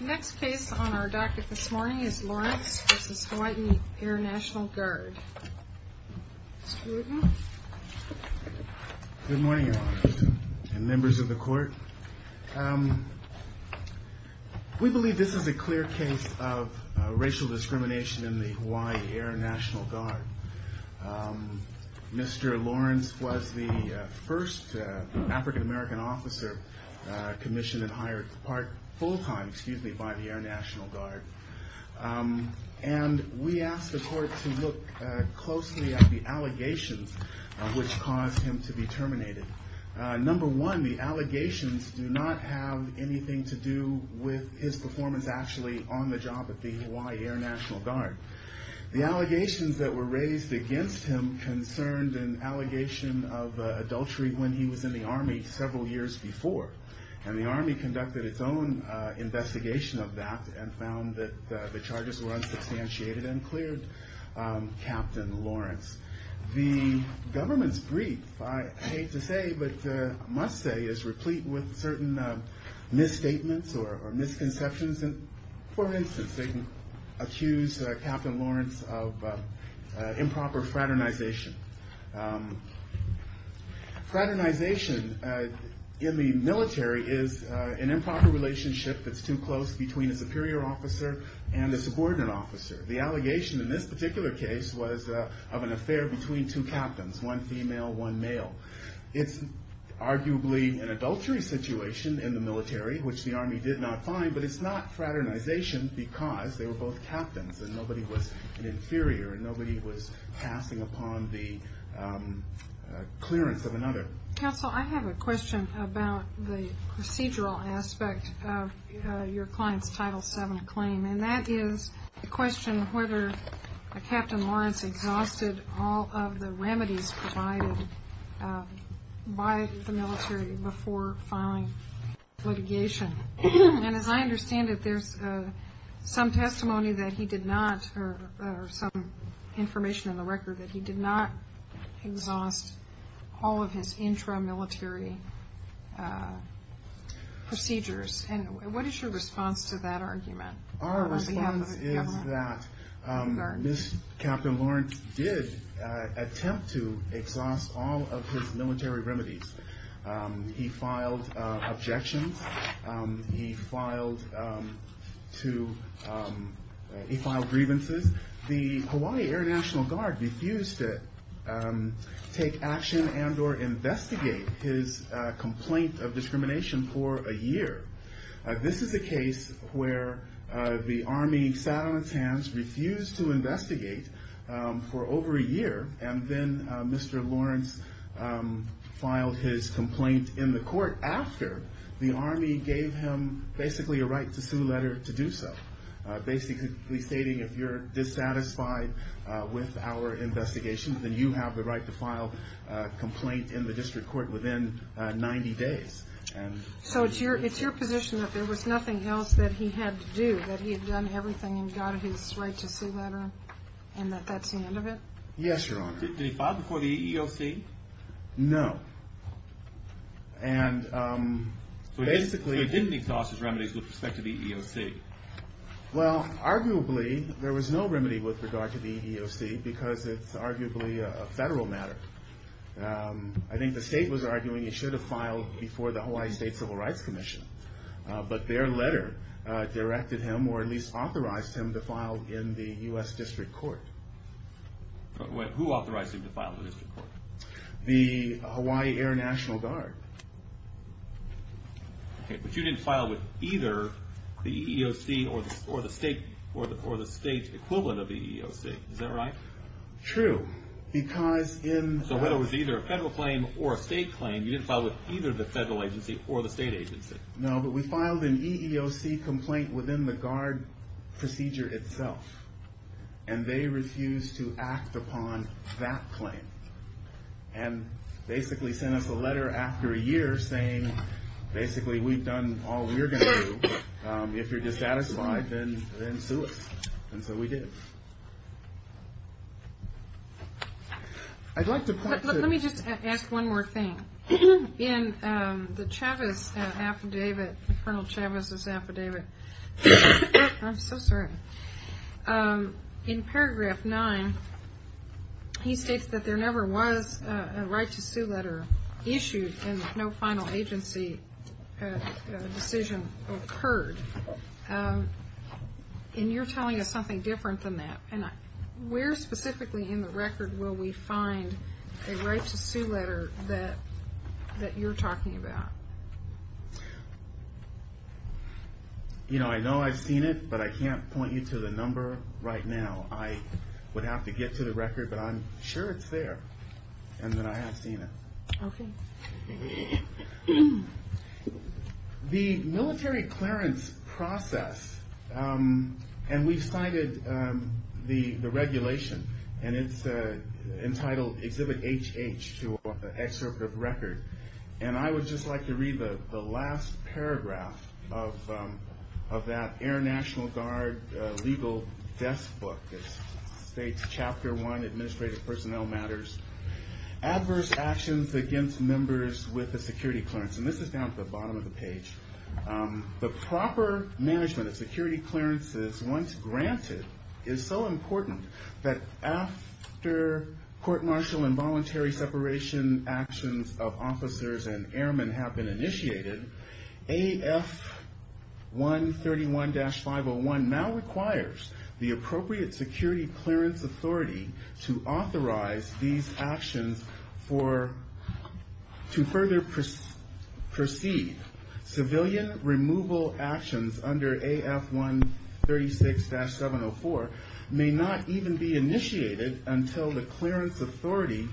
Next case on our docket this morning is Lawrence v. Hawaii Air National Guard. Mr. Rudin. Good morning, Your Honor, and members of the court. We believe this is a clear case of racial discrimination in the Hawaii Air National Guard. Mr. Lawrence was the first African American officer commissioned and hired full time by the Air National Guard. And we asked the court to look closely at the allegations which caused him to be terminated. Number one, the allegations do not have anything to do with his performance actually on the job at the Hawaii Air National Guard. The allegations that were raised against him concerned an allegation of adultery when he was in the Army several years before. And the Army conducted its own investigation of that and found that the charges were unsubstantiated and cleared Captain Lawrence. The government's brief, I hate to say but must say, is replete with certain misstatements or misconceptions. For instance, they accuse Captain Lawrence of improper fraternization. Fraternization in the military is an improper relationship that's too close between a superior officer and a subordinate officer. The allegation in this particular case was of an affair between two captains, one female, one male. It's arguably an adultery situation in the military, which the Army did not find. But it's not fraternization because they were both captains and nobody was an inferior and nobody was passing upon the clearance of another. Counsel, I have a question about the procedural aspect of your client's Title VII claim. And that is the question whether Captain Lawrence exhausted all of the remedies provided by the military before filing litigation. And as I understand it, there's some testimony that he did not or some information in the record that he did not exhaust all of his intramilitary procedures. And what is your response to that argument? Our response is that Captain Lawrence did attempt to exhaust all of his military remedies. He filed objections. He filed grievances. The Hawaii Air National Guard refused to take action and or investigate his complaint of discrimination for a year. This is a case where the Army sat on its hands, refused to investigate for over a year. And then Mr. Lawrence filed his complaint in the court after the Army gave him basically a right to sue letter to do so. Basically stating if you're dissatisfied with our investigation, then you have the right to file a complaint in the district court within 90 days. So it's your position that there was nothing else that he had to do, that he had done everything and got his right to sue letter and that that's the end of it? Yes, Your Honor. Did he file before the EEOC? No. So he didn't exhaust his remedies with respect to the EEOC? Well, arguably there was no remedy with regard to the EEOC because it's arguably a federal matter. I think the state was arguing he should have filed before the Hawaii State Civil Rights Commission. But their letter directed him or at least authorized him to file in the U.S. District Court. Who authorized him to file in the district court? The Hawaii Air National Guard. But you didn't file with either the EEOC or the state equivalent of the EEOC, is that right? True. So whether it was either a federal claim or a state claim, you didn't file with either the federal agency or the state agency? No, but we filed an EEOC complaint within the guard procedure itself. And they refused to act upon that claim. And basically sent us a letter after a year saying basically we've done all we're going to do. If you're dissatisfied, then sue us. And so we did. Let me just ask one more thing. In the Chavez affidavit, Col. Chavez's affidavit, I'm so sorry. In paragraph nine, he states that there never was a right to sue letter issued and no final agency decision occurred. And you're telling us something different than that. And where specifically in the record will we find a right to sue letter that you're talking about? You know, I know I've seen it, but I can't point you to the number right now. I would have to get to the record, but I'm sure it's there and that I have seen it. Okay. The military clearance process, and we've cited the regulation. And it's entitled Exhibit HH to an excerpt of record. And I would just like to read the last paragraph of that Air National Guard legal desk book. It states chapter one, administrative personnel matters. Adverse actions against members with a security clearance. And this is down at the bottom of the page. The proper management of security clearances once granted is so important that after court martial and voluntary separation actions of officers and airmen have been initiated, AF131-501 now requires the appropriate security clearance authority to authorize these actions to further proceed. Civilian removal actions under AF136-704 may not even be initiated until the clearance authority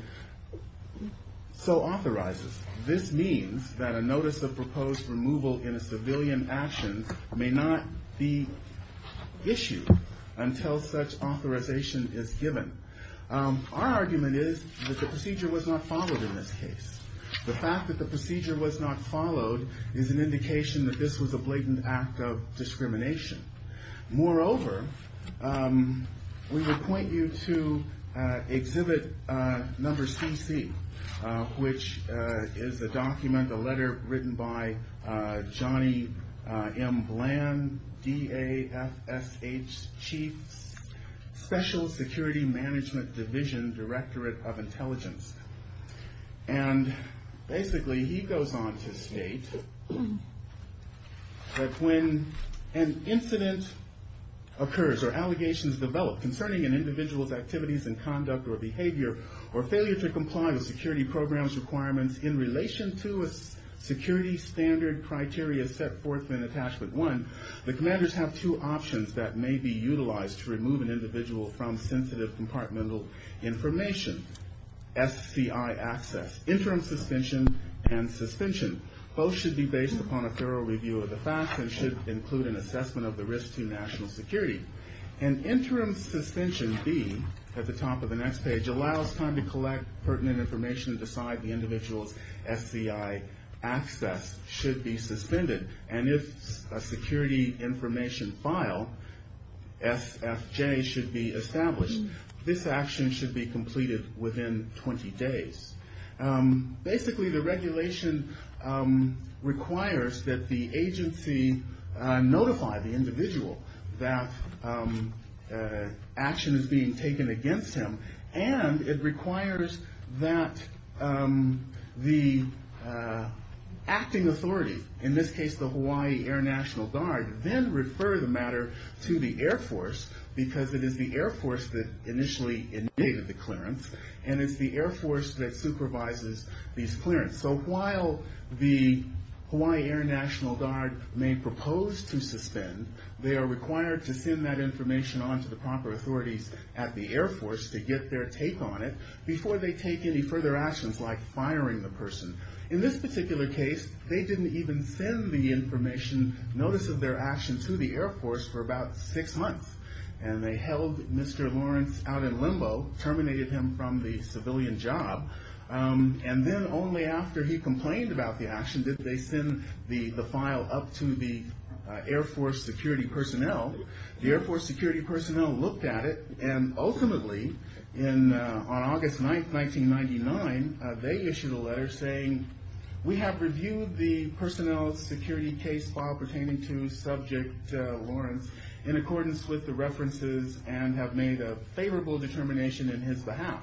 so authorizes. This means that a notice of proposed removal in a civilian action may not be issued until such authorization is given. Our argument is that the procedure was not followed in this case. The fact that the procedure was not followed is an indication that this was a blatant act of discrimination. Moreover, we would point you to exhibit number CC, which is a document, a letter written by Johnny M. Bland, DAFSH Chief Special Security Management Division Directorate of Intelligence. And basically he goes on to state that when an incident occurs or allegations develop concerning an individual's activities and conduct or behavior, or failure to comply with security programs requirements in relation to a security standard criteria set forth in attachment one, the commanders have two options that may be utilized to remove an individual from sensitive compartmental information. SCI access, interim suspension, and suspension. Both should be based upon a thorough review of the facts and should include an assessment of the risk to national security. And interim suspension B, at the top of the next page, allows time to collect pertinent information and decide the individual's SCI access should be suspended. And if a security information file, SFJ, should be established, this action should be completed within 20 days. Basically the regulation requires that the agency notify the individual that action is being taken against him. And it requires that the acting authority, in this case the Hawaii Air National Guard, then refer the matter to the Air Force, because it is the Air Force that initially initiated the clearance, and it's the Air Force that supervises these clearances. So while the Hawaii Air National Guard may propose to suspend, they are required to send that information on to the proper authorities at the Air Force to get their take on it before they take any further actions like firing the person. In this particular case, they didn't even send the information, notice of their action, to the Air Force for about six months. And they held Mr. Lawrence out in limbo, terminated him from the civilian job. And then only after he complained about the action did they send the file up to the Air Force security personnel. The Air Force security personnel looked at it, and ultimately, on August 9, 1999, they issued a letter saying, we have reviewed the personnel security case file pertaining to Subject Lawrence in accordance with the references, and have made a favorable determination in his behalf.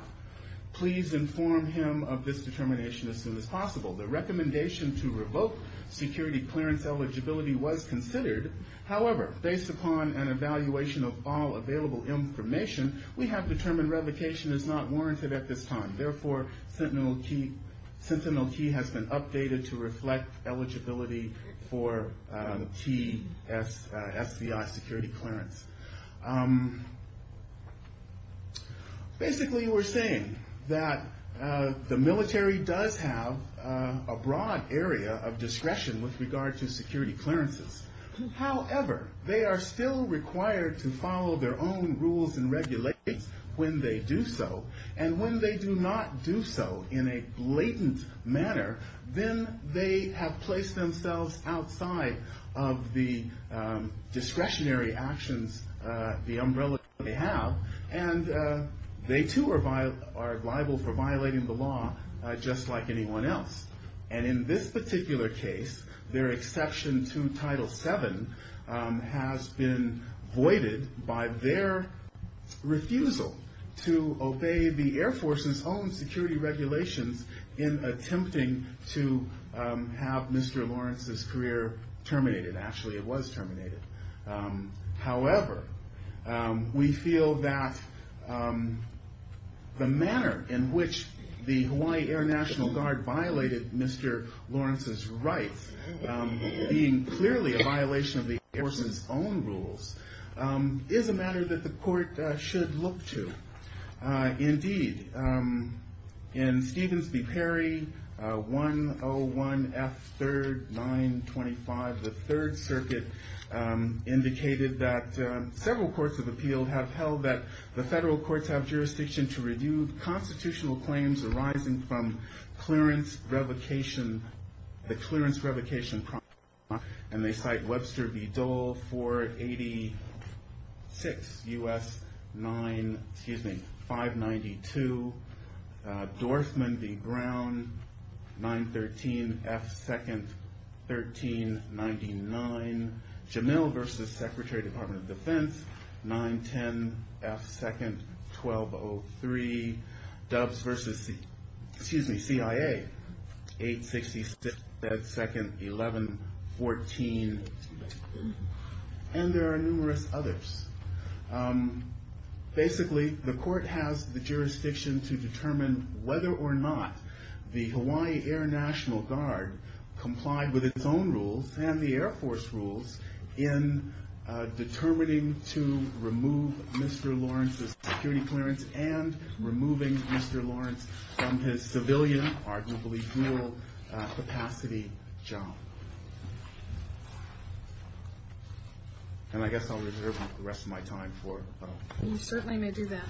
Please inform him of this determination as soon as possible. The recommendation to revoke security clearance eligibility was considered. However, based upon an evaluation of all available information, we have determined revocation is not warranted at this time. Therefore, Sentinel Key has been updated to reflect eligibility for key SBI security clearance. Basically, we're saying that the military does have a broad area of discretion with regard to security clearances. However, they are still required to follow their own rules and regulations when they do so. And when they do not do so in a blatant manner, then they have placed themselves outside of the discretionary actions, the umbrella they have, and they too are liable for violating the law just like anyone else. And in this particular case, their exception to Title VII has been voided by their refusal to obey the Air Force's own security regulations in attempting to have Mr. Lawrence's career terminated. Actually, it was terminated. However, we feel that the manner in which the Hawaii Air National Guard violated Mr. Lawrence's rights, being clearly a violation of the Air Force's own rules, is a matter that the court should look to. Indeed, in Stevens v. Perry, 101F3rd 925, the Third Circuit indicated that several courts of appeal have held that the federal courts have jurisdiction to review constitutional claims arising from the clearance revocation process. And they cite Webster v. Dole 486 U.S. 592, Dorfman v. Brown 913F2nd 1399, Jamil v. Secretary Department of Defense 910F2nd 1203, Doves v. CIA 866F2nd 1114, and there are numerous others. Basically, the court has the jurisdiction to determine whether or not the Hawaii Air National Guard complied with its own rules and the Air Force rules in determining to remove Mr. Lawrence's security clearance and removing Mr. Lawrence from his civilian, arguably dual-capacity job. And I guess I'll reserve the rest of my time for... You certainly may do that.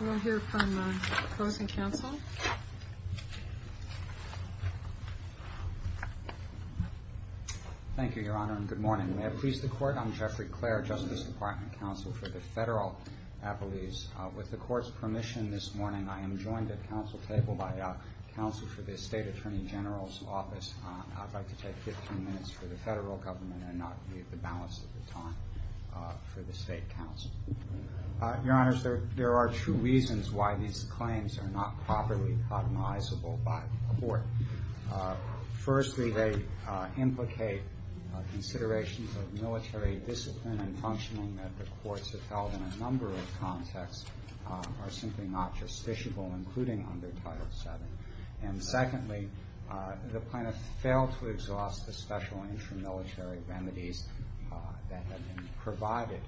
We'll hear from the closing counsel. Thank you, Your Honor, and good morning. May it please the Court, I'm Jeffrey Clare, Justice Department Counsel for the Federal Appellees. With the Court's permission this morning, I am joined at council table by counsel for the State Attorney General's Office. I'd like to take 15 minutes for the Federal Government and not leave the balance of the time for the State Counsel. Your Honors, there are two reasons why these claims are not properly cognizable by the Court. Firstly, they implicate considerations of military discipline and functioning that the Courts have held in a number of contexts are simply not justiciable, including under Title VII. And secondly, the plaintiff failed to exhaust the special intramilitary remedies that have been provided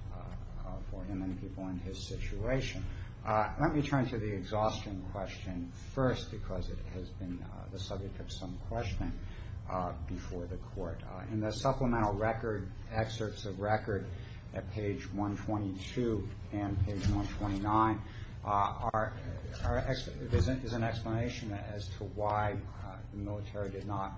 for him and people in his situation. Let me turn to the exhaustion question first because it has been the subject of some questioning before the Court. In the supplemental record, excerpts of record at page 122 and page 129, there's an explanation as to why the military did not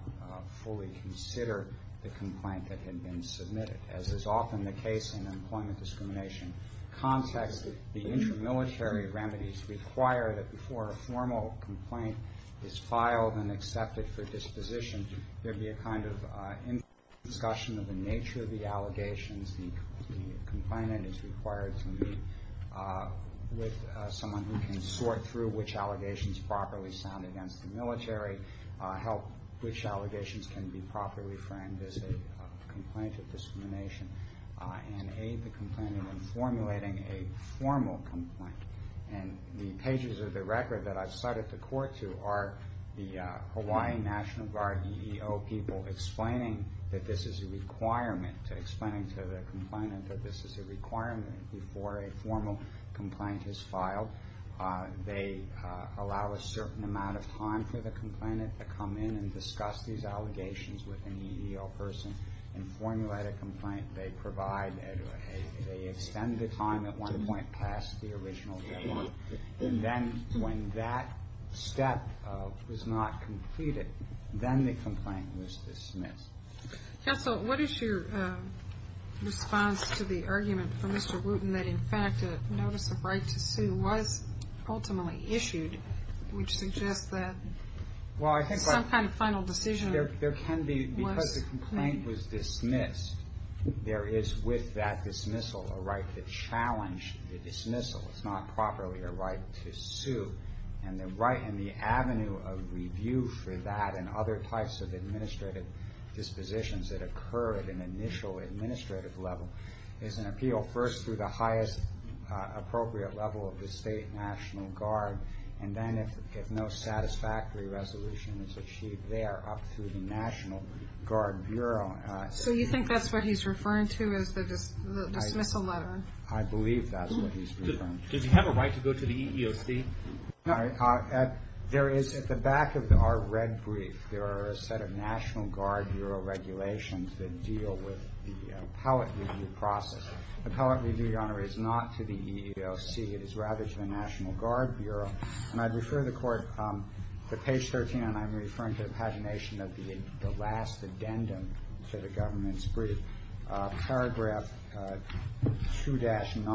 fully consider the complaint that had been submitted. As is often the case in employment discrimination contexts, the intramilitary remedies require that before a formal complaint is filed and accepted for disposition, there be a kind of in-depth discussion of the nature of the allegations. The complainant is required to meet with someone who can sort through which allegations properly sound against the military, help which allegations can be properly framed as a complaint of discrimination, and aid the complainant in formulating a formal complaint. And the pages of the record that I've cited the Court to are the Hawaii National Guard EEO people explaining that this is a requirement, explaining to the complainant that this is a requirement before a formal complaint is filed. They allow a certain amount of time for the complainant to come in and discuss these allegations with an EEO person and formulate a complaint. They extend the time at one point past the original deadline. And then when that step was not completed, then the complaint was dismissed. Counsel, what is your response to the argument from Mr. Wooten that, in fact, a notice of right to sue was ultimately issued, which suggests that some kind of final decision was made? Because the complaint was dismissed, there is with that dismissal a right to challenge the dismissal. It's not properly a right to sue. And the right and the avenue of review for that and other types of administrative dispositions that occur at an initial administrative level is an appeal first through the highest appropriate level of the State National Guard. And then if no satisfactory resolution is achieved there, up through the National Guard Bureau. So you think that's what he's referring to as the dismissal letter? I believe that's what he's referring to. Does he have a right to go to the EEOC? No. There is, at the back of our red brief, there are a set of National Guard Bureau regulations that deal with the appellate review process. The appellate review, Your Honor, is not to the EEOC. It is rather to the National Guard Bureau. And I'd refer the Court to page 13, and I'm referring to the pagination of the last addendum to the government's brief. Paragraph 2-9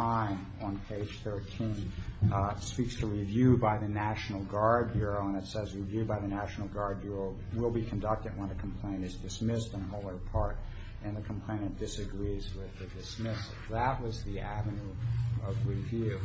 on page 13 speaks to review by the National Guard Bureau, and it says, review by the National Guard Bureau will be conducted when a complaint is dismissed on the whole or part, and the complainant disagrees with the dismissal. That was the avenue of review.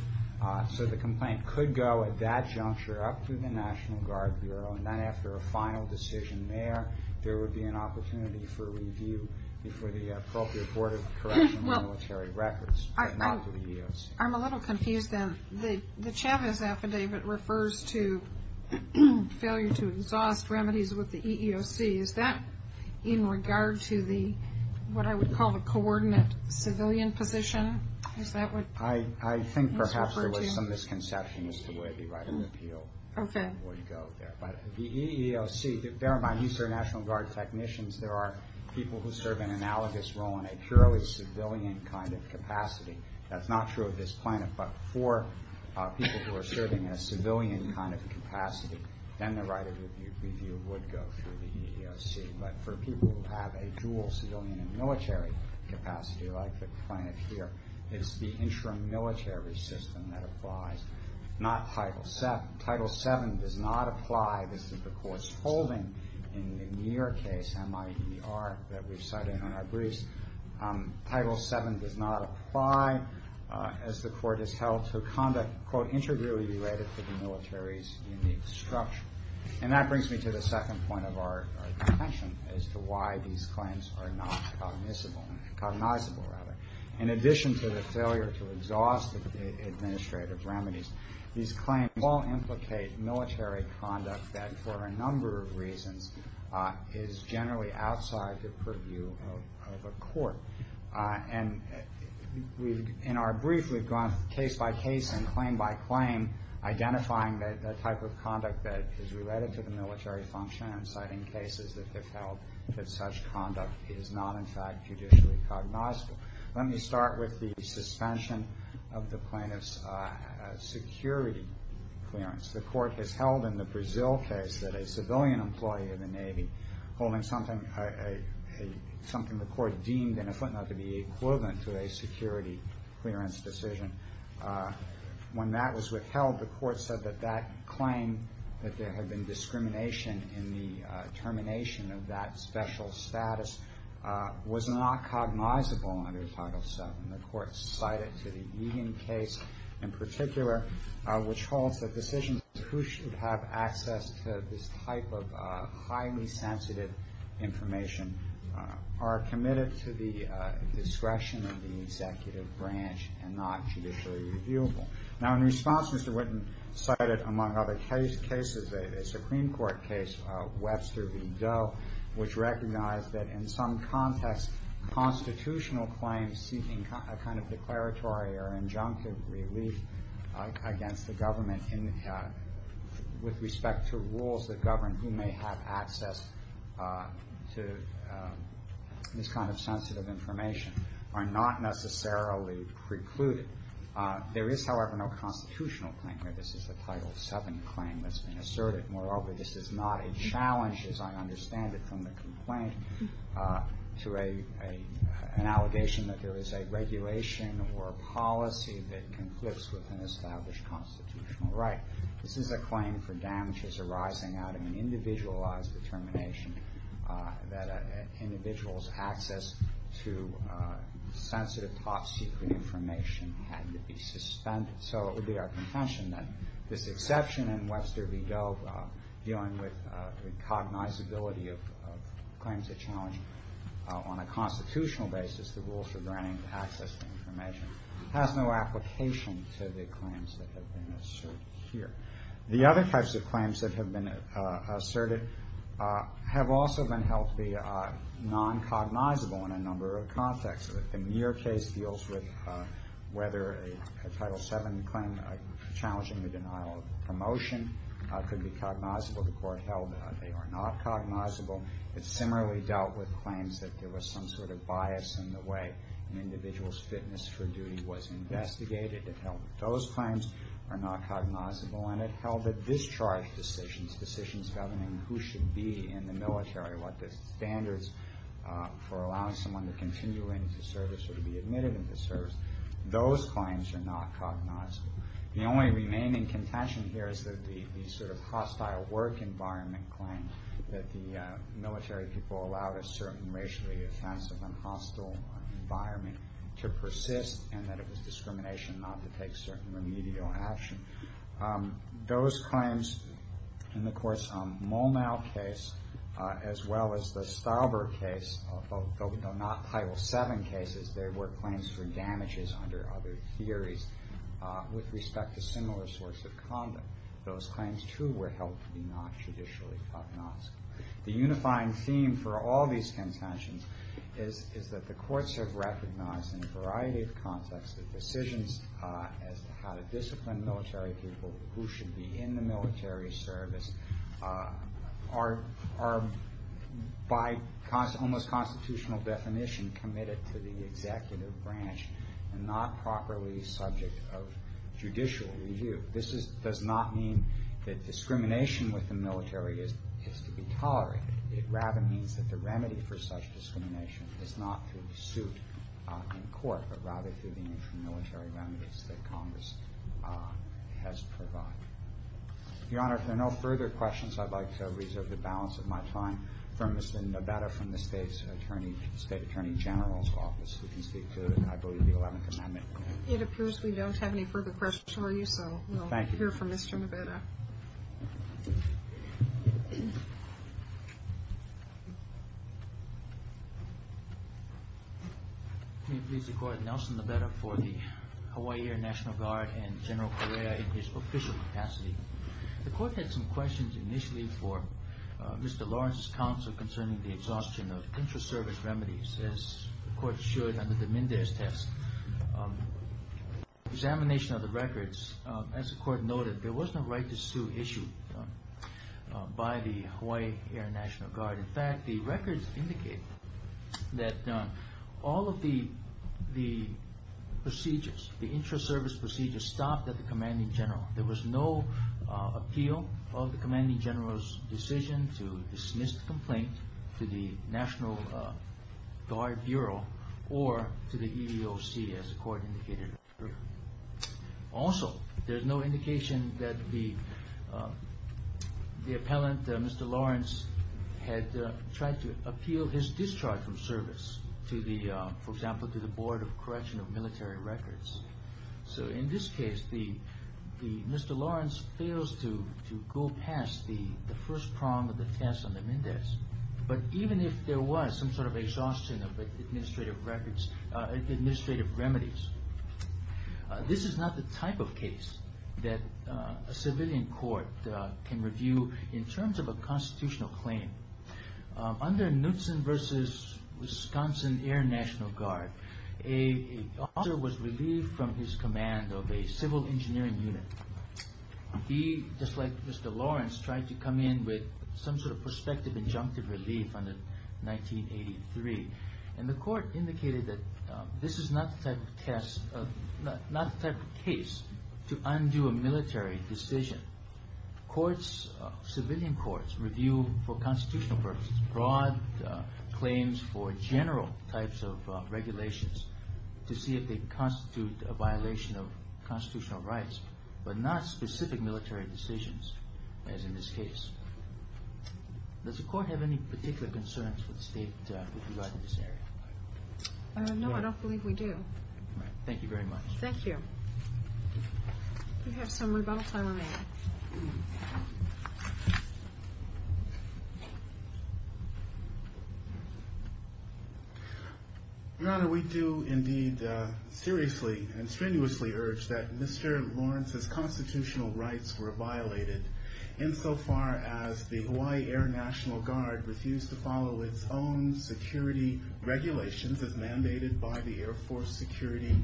So the complaint could go at that juncture up through the National Guard Bureau, and then after a final decision there, there would be an opportunity for review before the appropriate Board of Correctional and Military Records, but not the EEOC. I'm a little confused, then. The Chavez affidavit refers to failure to exhaust remedies with the EEOC. Is that in regard to the, what I would call the coordinate civilian position? Is that what it's referred to? I think perhaps there was some misconception as to where the right of appeal would go there. But the EEOC, bear in mind, these are National Guard technicians. There are people who serve an analogous role in a purely civilian kind of capacity. That's not true of this plaintiff, but for people who are serving in a civilian kind of capacity, then the right of review would go through the EEOC. But for people who have a dual civilian and military capacity, like the plaintiff here, it's the intramilitary system that applies, not Title VII. Title VII does not apply. This is the court's holding in the Muir case, M-I-E-R, that we've cited in our briefs. Title VII does not apply, as the court has held, to conduct, quote, integrally related to the military's unique structure. And that brings me to the second point of our attention as to why these claims are not cognizable. In addition to the failure to exhaust administrative remedies, these claims all implicate military conduct that, for a number of reasons, is generally outside the purview of a court. And in our brief, we've gone case by case and claim by claim, identifying the type of conduct that is related to the military function and citing cases that have held that such conduct is not, in fact, judicially cognizable. Let me start with the suspension of the plaintiff's security clearance. The court has held in the Brazil case that a civilian employee of the Navy, holding something the court deemed in a footnote to be equivalent to a security clearance decision, when that was withheld, the court said that that claim, that there had been discrimination in the termination of that special status, was not cognizable under Title VII. And the court cited to the Eden case in particular, which holds that decisions as to who should have access to this type of highly sensitive information are committed to the discretion of the executive branch and not judicially reviewable. Now, in response, Mr. Whitten cited, among other cases, a Supreme Court case, Webster v. Doe, which recognized that in some context, constitutional claims seeking a kind of declaratory or injunctive relief against the government with respect to rules that govern who may have access to this kind of sensitive information are not necessarily precluded. There is, however, no constitutional claim here. This is a Title VII claim that's been asserted. Moreover, this is not a challenge, as I understand it, from the complaint to an allegation that there is a regulation or a policy that conflicts with an established constitutional right. This is a claim for damages arising out of an individualized determination that an individual's access to sensitive top-secret information had to be suspended. So it would be our contention that this exception in Webster v. Doe, dealing with the cognizability of claims that challenge on a constitutional basis the rules for granting access to information, has no application to the claims that have been asserted here. The other types of claims that have been asserted have also been held to be non-cognizable in a number of contexts. The Muir case deals with whether a Title VII claim challenging the denial of promotion could be cognizable. The court held that they are not cognizable. It similarly dealt with claims that there was some sort of bias in the way an individual's fitness for duty was investigated. It held that those claims are not cognizable, and it held that discharge decisions, decisions governing who should be in the military, what the standards for allowing someone to continue into service or to be admitted into service, those claims are not cognizable. The only remaining contention here is that the sort of hostile work environment claim that the military people allowed a certain racially offensive and hostile environment to persist and that it was discrimination not to take certain remedial action. Those claims in the Courts' Mulnau case, as well as the Stauber case, though not Title VII cases, there were claims for damages under other theories with respect to similar sorts of conduct. Those claims, too, were held to be not judicially cognizable. The unifying theme for all these contentions is that the courts have recognized in a variety of contexts that decisions as to how to discipline military people who should be in the military service are by almost constitutional definition committed to the executive branch and not properly subject of judicial review. This does not mean that discrimination with the military is to be tolerated. It rather means that the remedy for such discrimination is not through suit in court, but rather through the inter-military remedies that Congress has provided. Your Honor, if there are no further questions, I'd like to reserve the balance of my time for Mr. Neveda from the State Attorney General's Office, who can speak to, I believe, the Eleventh Amendment. It appears we don't have any further questions for you, so we'll hear from Mr. Neveda. May it please the Court, Nelson Neveda for the Hawaii Air National Guard and General Correa in his official capacity. The Court had some questions initially for Mr. Lawrence's counsel concerning the exhaustion of intra-service remedies, as the Court should under the Mendez test. In the examination of the records, as the Court noted, there was no right to sue issued by the Hawaii Air National Guard. In fact, the records indicate that all of the procedures, the intra-service procedures stopped at the Commanding General. There was no appeal of the Commanding General's decision to dismiss the complaint to the National Guard Bureau or to the EEOC, as the Court indicated. Also, there's no indication that the appellant, Mr. Lawrence, had tried to appeal his discharge from service to the, for example, to the Board of Correction of Military Records. So in this case, Mr. Lawrence fails to go past the first prong of the test on the Mendez, but even if there was some sort of exhaustion of administrative remedies, this is not the type of case that a civilian court can review in terms of a constitutional claim. Under Knutson v. Wisconsin Air National Guard, a officer was relieved from his command of a civil engineering unit. He, just like Mr. Lawrence, tried to come in with some sort of prospective injunctive relief under 1983, and the Court indicated that this is not the type of test, not the type of case to undo a military decision. Courts, civilian courts, review for constitutional purposes broad claims for general types of regulations to see if they constitute a violation of constitutional rights, but not specific military decisions, as in this case. Does the Court have any particular concerns with regard to this area? No, I don't believe we do. Thank you very much. Thank you. We have some rebuttal time remaining. Your Honor, we do indeed seriously and strenuously urge that Mr. Lawrence's constitutional rights were violated, insofar as the Hawaii Air National Guard refused to follow its own security regulations as mandated by the Air Force Security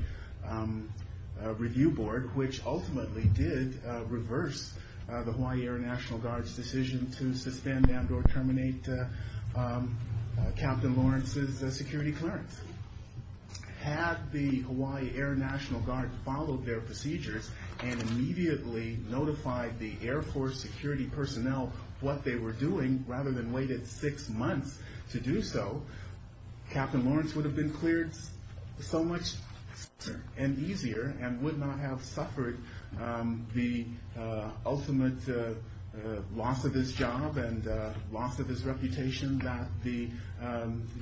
Review Board, which ultimately did reverse the Hawaii Air National Guard's decision to suspend and or terminate Captain Lawrence's security clearance. Had the Hawaii Air National Guard followed their procedures and immediately notified the Air Force security personnel what they were doing, rather than waited six months to do so, Captain Lawrence would have been cleared so much faster and easier and would not have suffered the ultimate loss of his job and loss of his reputation that the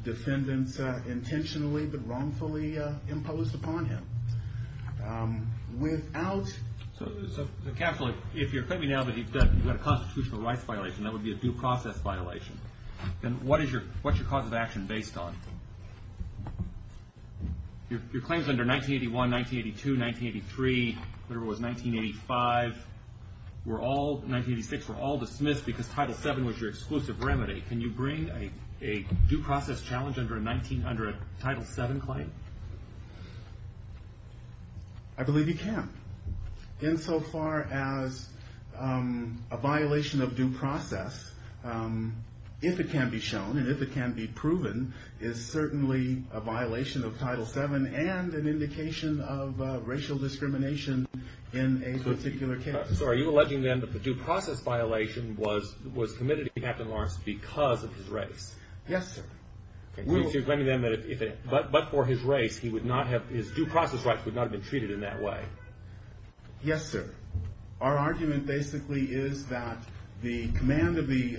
defendants intentionally but wrongfully imposed upon him. If you're claiming now that you've got a constitutional rights violation, that would be a due process violation, then what's your cause of action based on? Your claims under 1981, 1982, 1983, whatever it was, 1985, 1986, were all dismissed because Title VII was your exclusive remedy. Can you bring a due process challenge under a Title VII claim? I believe you can. Insofar as a violation of due process, if it can be shown and if it can be proven, is certainly a violation of Title VII and an indication of racial discrimination in a particular case. So are you alleging then that the due process violation was committed to Captain Lawrence because of his race? Yes, sir. But for his race, his due process rights would not have been treated in that way. Yes, sir. Our argument basically is that the command of the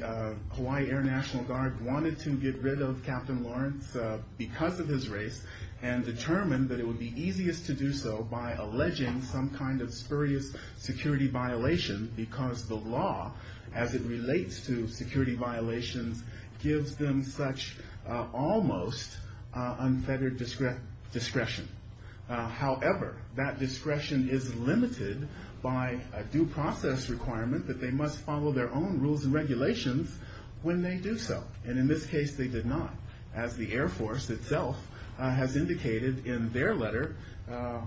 Hawaii Air National Guard wanted to get rid of Captain Lawrence because of his race and determined that it would be easiest to do so by alleging some kind of spurious security violation because the law, as it relates to security violations, gives them such almost unfettered discretion. However, that discretion is limited by a due process requirement that they must follow their own rules and regulations when they do so. And in this case, they did not, as the Air Force itself has indicated in their letter,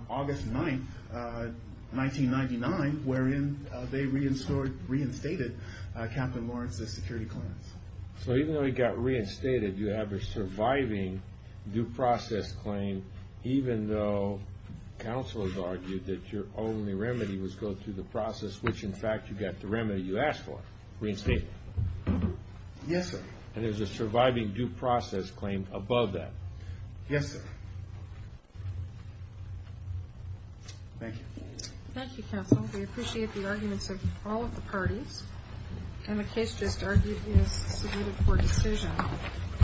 August 9, 1999, wherein they reinstated Captain Lawrence's security clearance. So even though he got reinstated, you have a surviving due process claim even though counsel has argued that your only remedy was go through the process, which, in fact, you got the remedy you asked for, reinstated. Yes, sir. And there's a surviving due process claim above that. Yes, sir. Thank you. Thank you, counsel. We appreciate the arguments of all of the parties. And the case just argued is subpoenaed for decision.